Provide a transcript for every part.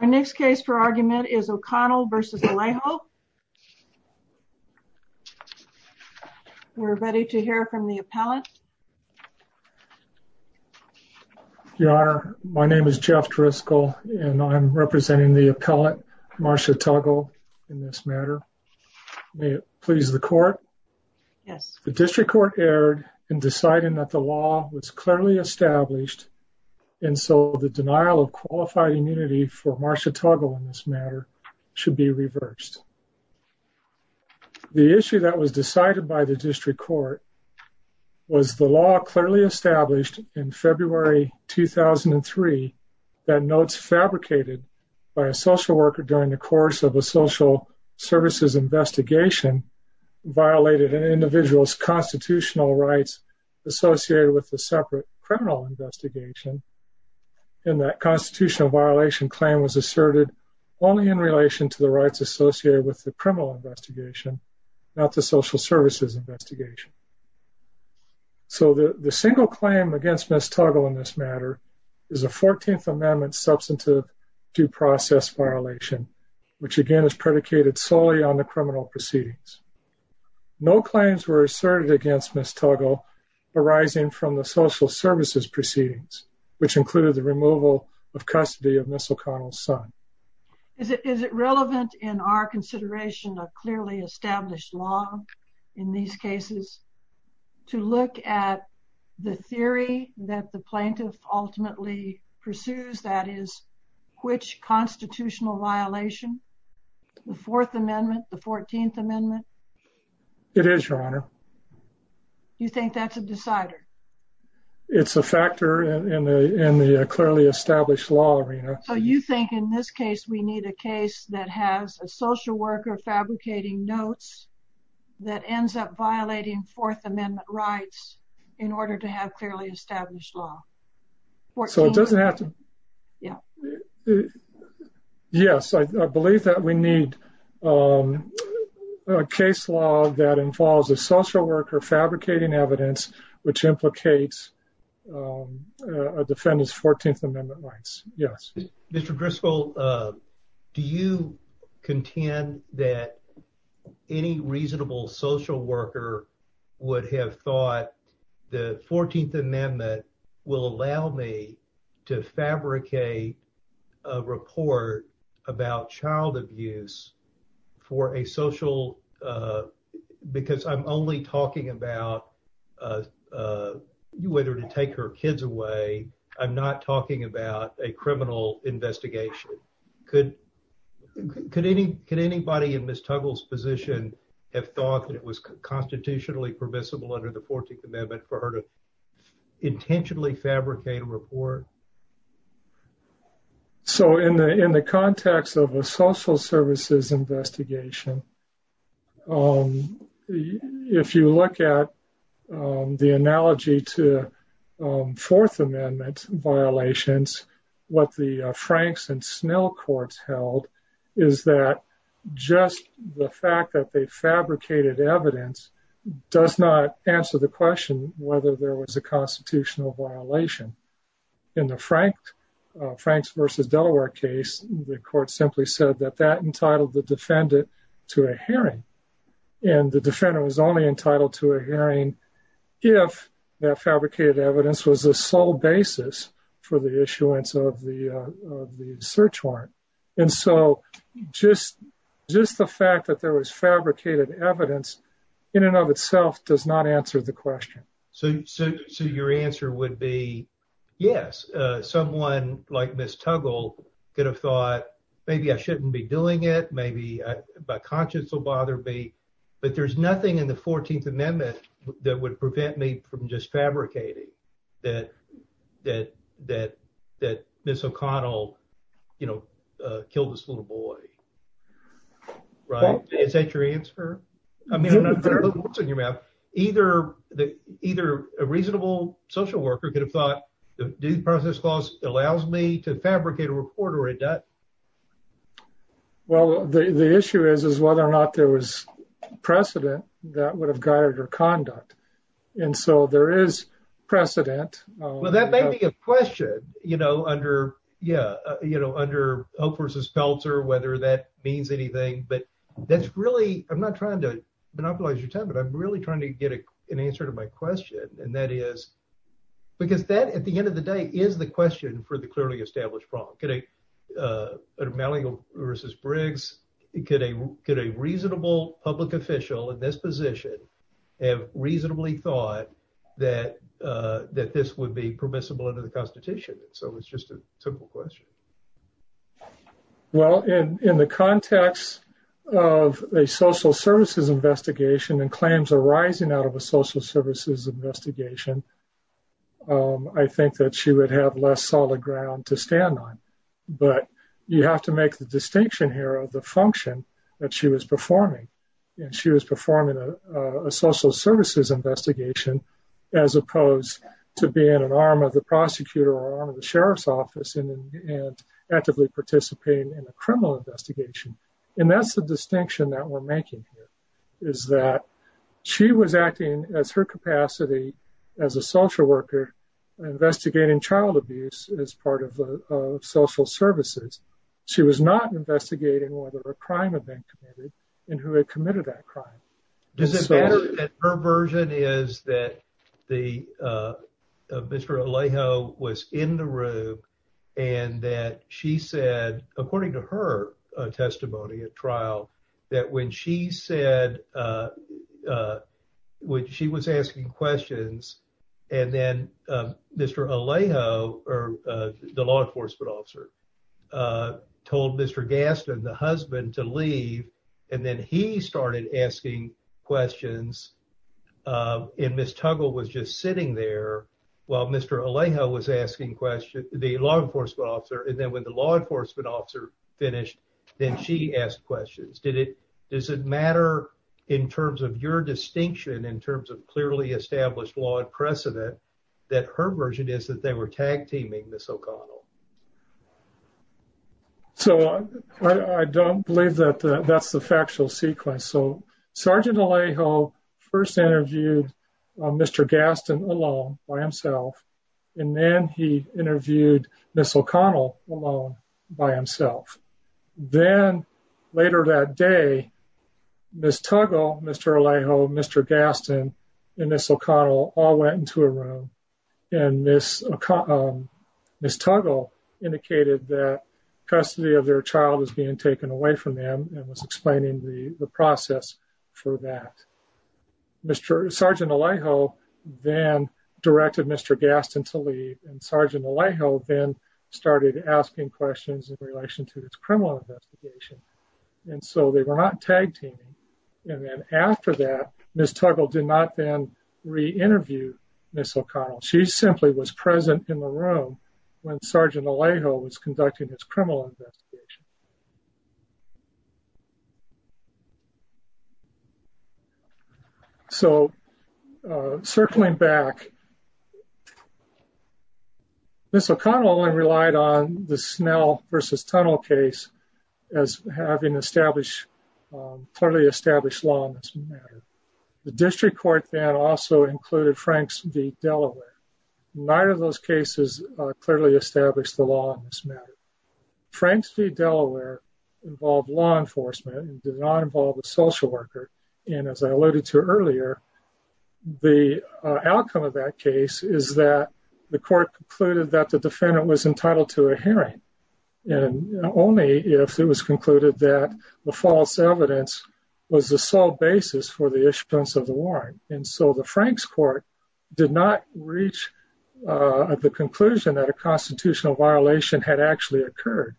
Our next case for argument is O'Connell v. Alejo. We're ready to hear from the appellant. Your Honor, my name is Jeff Driscoll and I'm representing the appellant, Marcia Tuggle, in this matter. May it please the court? Yes. The district court erred in deciding that the law was clearly established and so the denial of qualified immunity for Marcia Tuggle in this matter should be reversed. The issue that was decided by the district court was the law clearly established in February 2003 that notes fabricated by a social worker during the course of a social services investigation violated an individual's constitutional rights associated with the separate criminal investigation and that constitutional violation claim was asserted only in relation to the rights associated with the criminal investigation, not the social services investigation. So the single claim against Ms. Tuggle in this matter is a 14th Amendment substantive due process violation which again is predicated solely on the criminal proceedings. No claims were asserted against Ms. Tuggle arising from the social services proceedings which included the removal of custody of Ms. O'Connell's son. Is it relevant in our consideration of clearly established law in these cases to look at the theory that the plaintiff ultimately pursues, that is, which is a constitutional violation, the Fourth Amendment, the 14th Amendment? It is, Your Honor. You think that's a decider? It's a factor in the clearly established law arena. So you think in this case we need a case that has a social worker fabricating notes that ends up violating Fourth Amendment rights in order to have clearly established law? So it doesn't have to... Yes, I believe that we need a case law that involves a social worker fabricating evidence which implicates a defendant's 14th Amendment rights. Yes. Mr. Driscoll, do you contend that any reasonable social worker would have thought the 14th Amendment will allow me to fabricate a report about child abuse for a social... because I'm only talking about whether to take her kids away. I'm not talking about a criminal investigation. Could anybody in Ms. Tuggle's position have thought that it was constitutionally permissible under the 14th Amendment for her to intentionally fabricate a report? So in the context of a social services investigation, if you look at the analogy to Fourth Amendment violations, what the Franks and Snell courts held is that just the fact that they fabricated evidence does not answer the question whether there was a constitutional violation. In the Franks v. Delaware case, the court simply said that that entitled the defendant to a hearing, and the defendant was only entitled to a hearing if that fabricated evidence was the sole basis for the issuance of the search warrant. And so just the fact that there was fabricated evidence in and of itself does not answer the question. So your answer would be, yes, someone like Ms. Tuggle could have thought, maybe I shouldn't be doing it, maybe my conscience will bother me. But there's nothing in the 14th Amendment that would prevent me from just fabricating that Ms. O'Connell, you know, killed this little boy. Right? Is that your answer? I mean, I don't know what's in your mouth. Either a reasonable social worker could have thought, the Due Process Clause allows me to fabricate a report or it doesn't. Well, the issue is, is whether or not there was precedent that would have guided her conduct. And so there is precedent. Well, that may be a question, you know, under, yeah, you know, under Hope v. Peltzer, whether that means anything. But that's really, I'm not trying to monopolize your time, but I'm really trying to get an answer to my question. And that is because that at the end of the day is the question for the clearly established problem. Malling v. Briggs, could a reasonable public official in this position have reasonably thought that this would be permissible under the Constitution? So it's just a simple question. Well, in the context of a social services investigation and claims arising out of a social services investigation, I think that she would have less solid ground to stand on. But you have to make the distinction here of the function that she was performing. And she was performing a social services investigation, as opposed to being an arm of the prosecutor or arm of the sheriff's office and actively participating in a criminal investigation. And that's the distinction that we're making here is that she was acting as her capacity as a social worker investigating child abuse as part of social services. She was not investigating whether a crime had been committed and who had committed that crime. Does it matter that her version is that Mr. Alejo was in the room and that she said, according to her testimony at trial, that when she said when she was asking questions, and then Mr. Alejo, the law enforcement officer, told Mr. Gaston, the husband, to leave. And then he started asking questions. And Ms. Tuggle was just sitting there while Mr. Alejo was asking questions, the law enforcement officer. And then when the law enforcement officer finished, then she asked questions. Does it matter in terms of your distinction, in terms of clearly established law precedent, that her version is that they were tag teaming Ms. O'Connell? So I don't believe that that's the factual sequence. So Sergeant Alejo first interviewed Mr. Gaston alone by himself, and then he interviewed Ms. O'Connell alone by himself. Then later that day, Ms. Tuggle, Mr. Alejo, Mr. Gaston, and Ms. O'Connell all went into a room. And Ms. Tuggle indicated that custody of their child was being taken away from them and was explaining the process for that. Sergeant Alejo then directed Mr. Gaston to leave, and Sergeant Alejo then started asking questions in relation to this criminal investigation. And so they were not tag teaming. And then after that, Ms. Tuggle did not then re-interview Ms. O'Connell. She simply was present in the room when Sergeant Alejo was conducting his criminal investigation. So circling back, Ms. O'Connell only relied on the Snell v. Tunnell case as having clearly established law in this matter. The district court then also included Franks v. Delaware. Neither of those cases clearly established the law in this matter. Franks v. Delaware involved law enforcement and did not involve a social worker. And as I alluded to earlier, the outcome of that case is that the court concluded that the defendant was entitled to a hearing. And only if it was concluded that the false evidence was the sole basis for the issuance of the warrant. And so the Franks court did not reach the conclusion that a constitutional violation had actually occurred.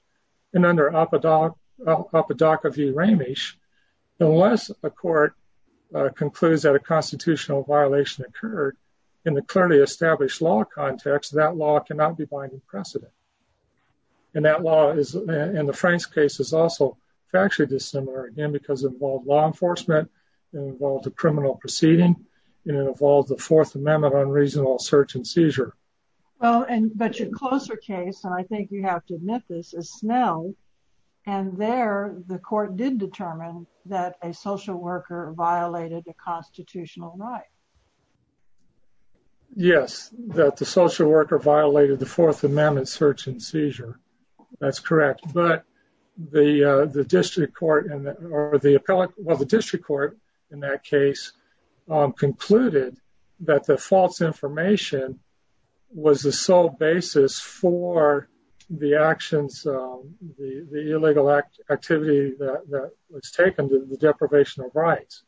And under Apodaca v. Ramish, unless a court concludes that a constitutional violation occurred in the clearly established law context, that law cannot be binding precedent. And the Franks case is also factually dissimilar again because it involved law enforcement, it involved a criminal proceeding, and it involved the Fourth Amendment on reasonable search and seizure. But your closer case, and I think you have to admit this, is Snell. And there the court did determine that a social worker violated a constitutional right. Yes, that the social worker violated the Fourth Amendment search and seizure. That's correct. But the district court or the district court in that case concluded that the false information was the sole basis for the actions, the illegal activity that was taken to the deprivation of rights.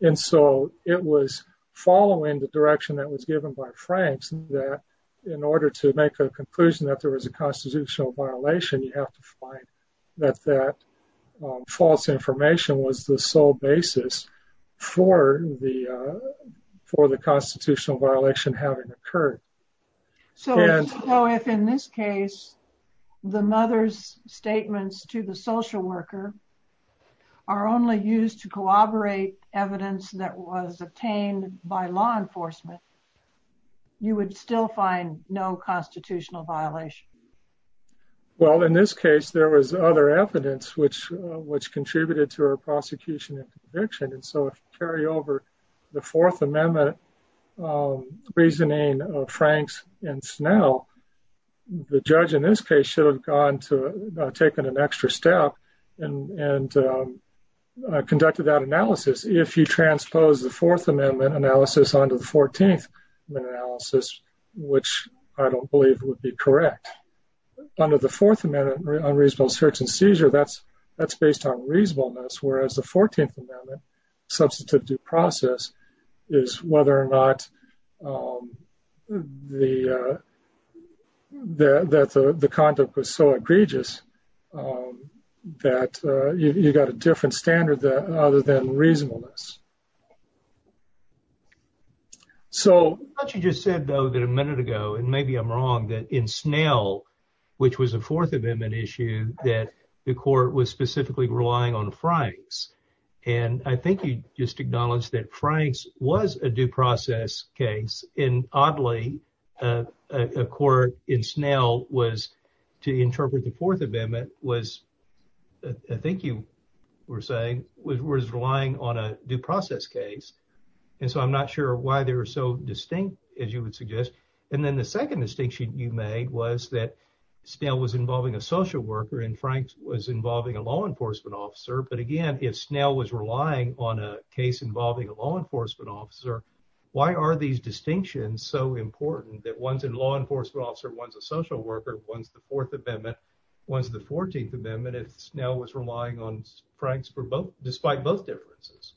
And so it was following the direction that was given by Franks that in order to make a conclusion that there was a constitutional violation, you have to find that that false information was the sole basis for the constitutional violation having occurred. So if in this case, the mother's statements to the social worker are only used to corroborate evidence that was obtained by law enforcement, you would still find no constitutional violation. Well, in this case, there was other evidence which which contributed to her prosecution and conviction. And so if you carry over the Fourth Amendment reasoning of Franks and Snell, the judge in this case should have gone to taken an extra step and conducted that analysis. If you transpose the Fourth Amendment analysis onto the 14th analysis, which I don't believe would be correct under the Fourth Amendment unreasonable search and seizure, that's that's based on reasonableness. Whereas the 14th amendment substitute due process is whether or not the the that the conduct was so egregious that you got a different standard than other than reasonableness. So what you just said, though, that a minute ago, and maybe I'm wrong, that in Snell, which was a Fourth Amendment issue, that the court was specifically relying on Franks. And I think you just acknowledged that Franks was a due process case. And oddly, a court in Snell was to interpret the Fourth Amendment was, I think you were saying, was relying on a due process case. And so I'm not sure why they were so distinct, as you would suggest. And then the second distinction you made was that Snell was involving a social worker and Franks was involving a law enforcement officer. But again, if Snell was relying on a case involving a law enforcement officer, why are these distinctions so important that one's in law enforcement officer, one's a social worker, one's the Fourth Amendment, one's the 14th Amendment, if Snell was relying on Franks for both, despite both differences?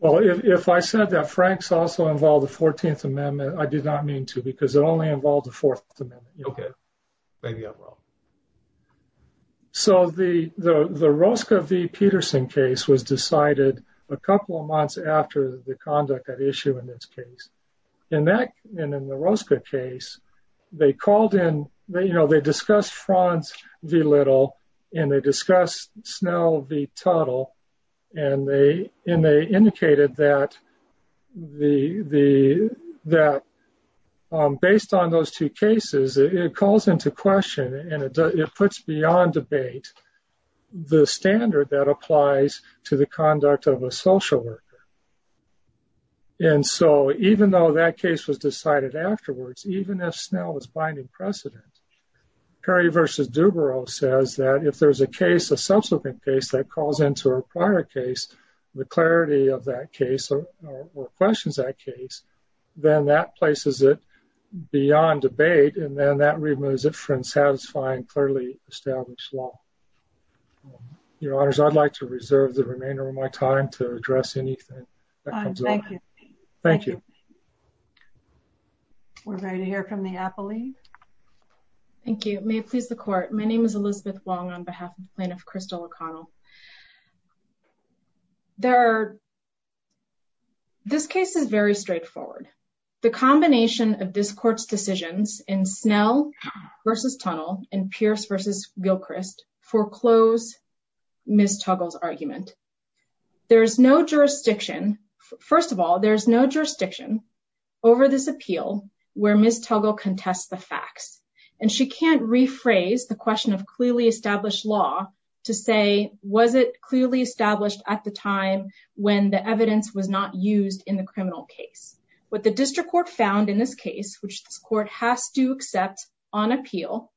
Well, if I said that Franks also involved the 14th Amendment, I did not mean to because it only involved the Fourth Amendment. Okay, maybe I'm wrong. So the Rosca v. Peterson case was decided a couple of months after the conduct of the issue in this case. And in the Rosca case, they discussed Franz v. Little, and they discussed Snell v. Tuttle, and they indicated that based on those two cases, it calls into question and it puts beyond debate the standard that applies to the conduct of a social worker. And so even though that case was decided afterwards, even if Snell was binding precedent, Perry v. Dubrow says that if there's a case, a subsequent case that calls into a prior case, the clarity of that case or questions that case, then that places it beyond debate, and then that removes it from satisfying clearly established law. Your Honors, I'd like to reserve the remainder of my time to address anything that comes up. Thank you. Thank you. We're ready to hear from the appellee. Thank you. May it please the Court. My name is Elizabeth Wong on behalf of Plaintiff Crystal O'Connell. There are, this case is very straightforward. The combination of this Court's decisions in Snell v. Tuttle and Pierce v. Gilchrist foreclose Ms. Tuggle's argument. There is no jurisdiction. First of all, there is no jurisdiction over this appeal where Ms. Tuggle contests the facts. And she can't rephrase the question of clearly established law to say, was it clearly established at the time when the evidence was not used in the criminal case? What the District Court found in this case, which this Court has to accept on appeal,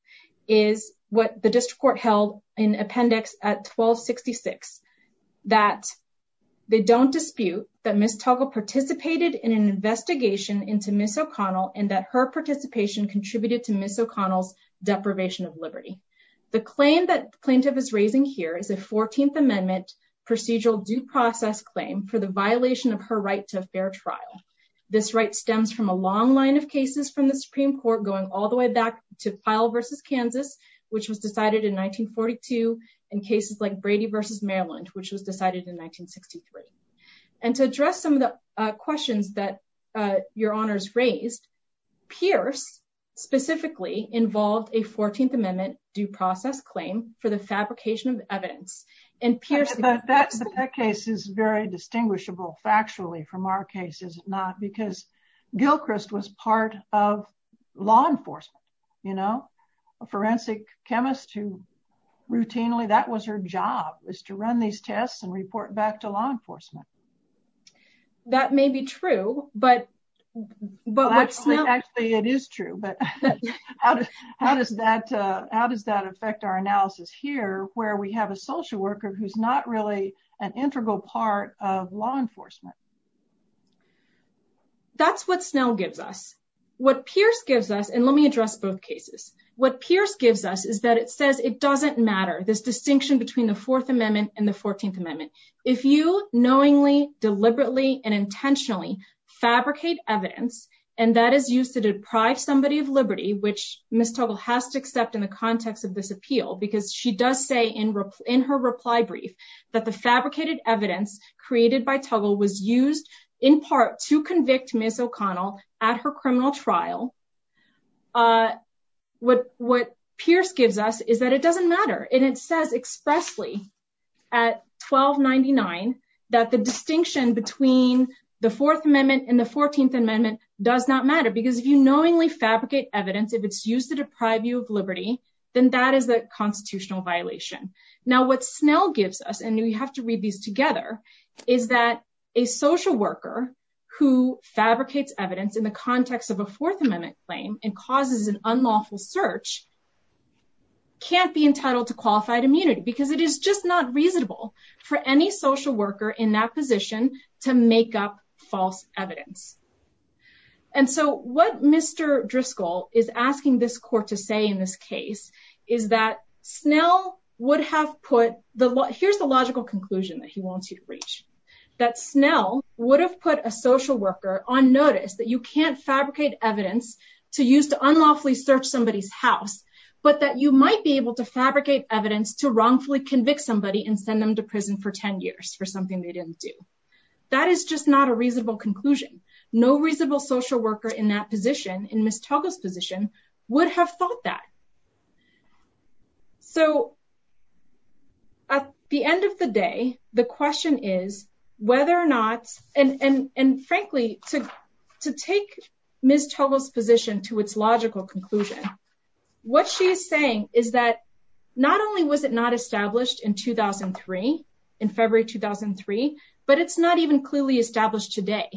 is what the District Court held in Appendix 1266. That they don't dispute that Ms. Tuggle participated in an investigation into Ms. O'Connell and that her participation contributed to Ms. O'Connell's deprivation of liberty. The claim that the plaintiff is raising here is a 14th Amendment procedural due process claim for the violation of her right to a fair trial. This right stems from a long line of cases from the Supreme Court going all the way back to Pyle v. Kansas, which was decided in 1942, and cases like Brady v. Maryland, which was decided in 1963. And to address some of the questions that your Honors raised, Pierce specifically involved a 14th Amendment due process claim for the fabrication of evidence. But that case is very distinguishable factually from our case, is it not? Because Gilchrist was part of law enforcement, you know? A forensic chemist who routinely, that was her job, was to run these tests and report back to law enforcement. That may be true, but what's not? Actually, it is true, but how does that affect our analysis here where we have a social worker who's not really an integral part of law enforcement? That's what Snell gives us. What Pierce gives us, and let me address both cases, what Pierce gives us is that it says it doesn't matter, this distinction between the Fourth Amendment and the 14th Amendment. If you knowingly, deliberately, and intentionally fabricate evidence, and that is used to deprive somebody of liberty, which Ms. Tuggle has to accept in the context of this appeal, because she does say in her reply brief that the fabricated evidence created by Tuggle was used in part to convict Ms. O'Connell at her criminal trial. What Pierce gives us is that it doesn't matter, and it says expressly at 1299 that the distinction between the Fourth Amendment and the 14th Amendment does not matter, because if you knowingly fabricate evidence, if it's used to deprive you of liberty, then that is a constitutional violation. Now, what Snell gives us, and we have to read these together, is that a social worker who fabricates evidence in the context of a Fourth Amendment claim and causes an unlawful search can't be entitled to qualified immunity, because it is just not reasonable for any social worker in that position to make up false evidence. And so what Mr. Driscoll is asking this court to say in this case is that Snell would have put, here's the logical conclusion that he wants you to reach, that Snell would have put a social worker on notice that you can't fabricate evidence to use to unlawfully search somebody's house, but that you might be able to fabricate evidence to wrongfully convict somebody and send them to prison for 10 years for something they didn't do. That is just not a reasonable conclusion. No reasonable social worker in that position, in Ms. Tuggle's position, would have thought that. So at the end of the day, the question is whether or not, and frankly, to take Ms. Tuggle's position to its logical conclusion, what she is saying is that not only was it not established in 2003, in February 2003, but it's not even clearly established today,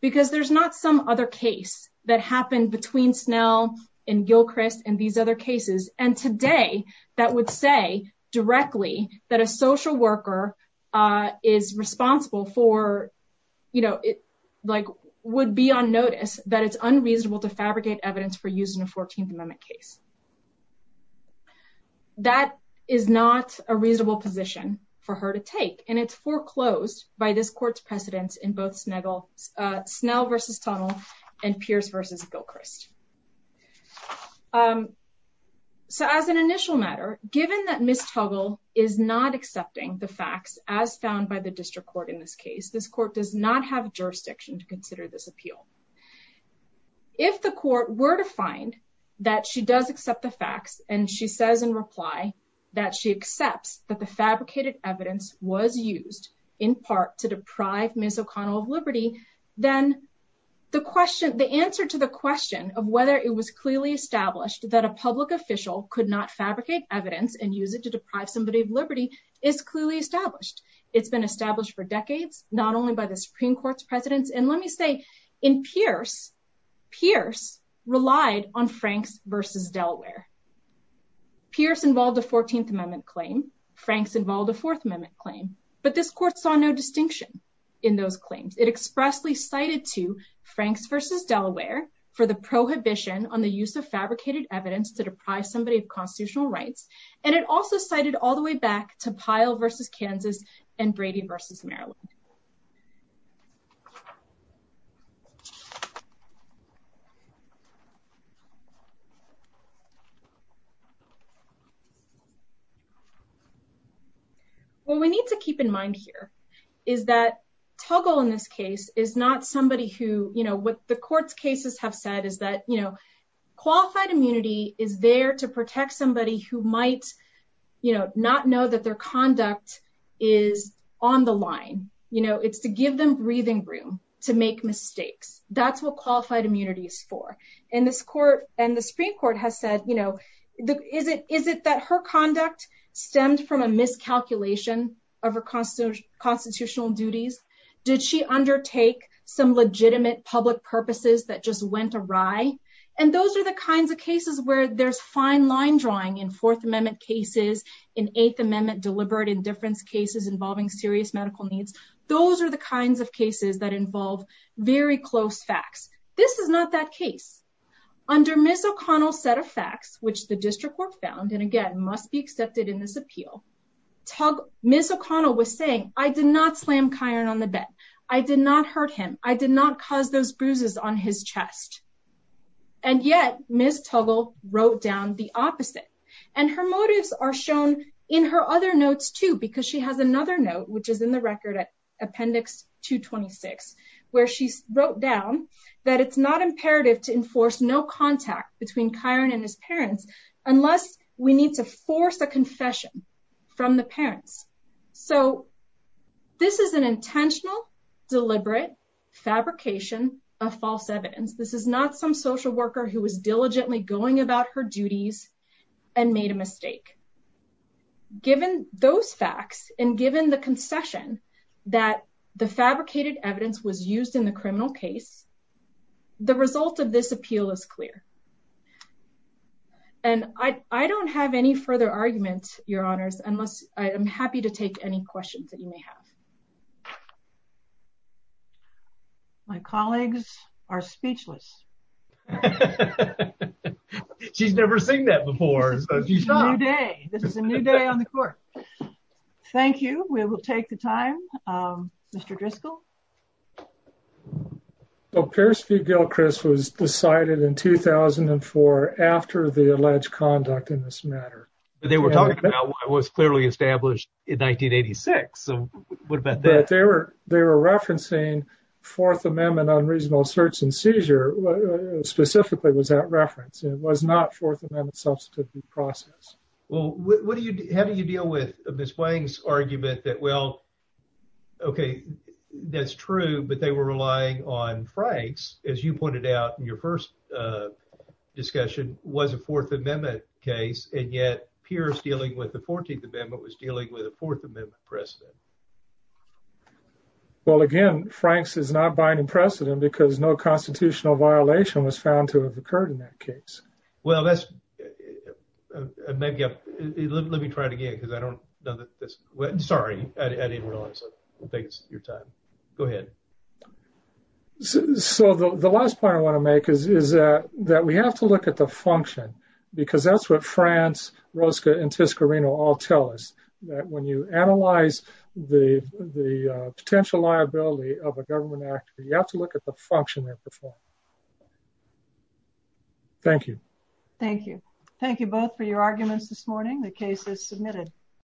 because there's not some other case that happened between Snell and Gilchrist and these other cases. That would say directly that a social worker is responsible for, would be on notice that it's unreasonable to fabricate evidence for use in a 14th Amendment case. That is not a reasonable position for her to take, and it's foreclosed by this court's precedence in both Snell v. Tuggle and Pierce v. Gilchrist. So as an initial matter, given that Ms. Tuggle is not accepting the facts as found by the district court in this case, this court does not have jurisdiction to consider this appeal. If the court were to find that she does accept the facts, and she says in reply that she accepts that the fabricated evidence was used in part to deprive Ms. O'Connell of liberty, then the question, the answer to the question of whether it was clearly established that a public official could not fabricate evidence and use it to deprive somebody of liberty is clearly established. It's been established for decades, not only by the Supreme Court's precedence, and let me say, in Pierce, Pierce relied on Franks v. Delaware. Pierce involved a 14th Amendment claim, Franks involved a 4th Amendment claim, but this court saw no distinction in those claims. It expressly cited to Franks v. Delaware for the prohibition on the use of fabricated evidence to deprive somebody of constitutional rights, and it also cited all the way back to Pyle v. Kansas and Brady v. Maryland. What we need to keep in mind here is that Tuggle in this case is not somebody who, you know, what the court's cases have said is that, you know, qualified immunity is there to protect somebody who might, you know, not know that their conduct is on the line. You know, it's to give them breathing room to make mistakes. That's what qualified immunity is for. And this court and the Supreme Court has said, you know, is it that her conduct stemmed from a miscalculation of her constitutional duties? Did she undertake some legitimate public purposes that just went awry? And those are the kinds of cases where there's fine line drawing in 4th Amendment cases, in 8th Amendment deliberate indifference cases involving serious medical needs. Those are the kinds of cases that involve very close facts. This is not that case. Under Ms. O'Connell's set of facts, which the district court found, and again, must be accepted in this appeal, Ms. O'Connell was saying, I did not slam Kiron on the bed. I did not hurt him. I did not cause those bruises on his chest. And yet, Ms. Tuggle wrote down the opposite. And her motives are shown in her other notes, too, because she has another note, which is in the record at Appendix 226, where she wrote down that it's not imperative to enforce no contact between Kiron and his parents, unless we need to force a confession from the parents. So this is an intentional, deliberate fabrication of false evidence. This is not some social worker who was diligently going about her duties and made a mistake. Given those facts and given the concession that the fabricated evidence was used in the criminal case, the result of this appeal is clear. And I don't have any further argument, Your Honors, unless I am happy to take any questions that you may have. My colleagues are speechless. She's never seen that before. This is a new day on the court. Thank you. We will take the time. Mr. Driscoll. Well, Pierce v. Gilchrist was decided in 2004 after the alleged conduct in this matter. They were talking about what was clearly established in 1986. So what about that? They were referencing Fourth Amendment unreasonable search and seizure, specifically was that reference. It was not Fourth Amendment substantive process. Well, how do you deal with Ms. Wang's argument that, well, okay, that's true, but they were relying on Franks, as you pointed out in your first discussion, was a Fourth Amendment case, and yet Pierce dealing with the 14th Amendment was dealing with a Fourth Amendment precedent. Well, again, Franks is not binding precedent because no constitutional violation was found to have occurred in that case. Well, let me try it again because I don't know that this, sorry, I didn't realize it. Thanks for your time. Go ahead. So the last point I want to make is that we have to look at the function, because that's what Franz, Rosca, and Toscarino all tell us, that when you analyze the potential liability of a government act, you have to look at the function they perform. Thank you. Thank you. Thank you both for your arguments this morning. The case is submitted.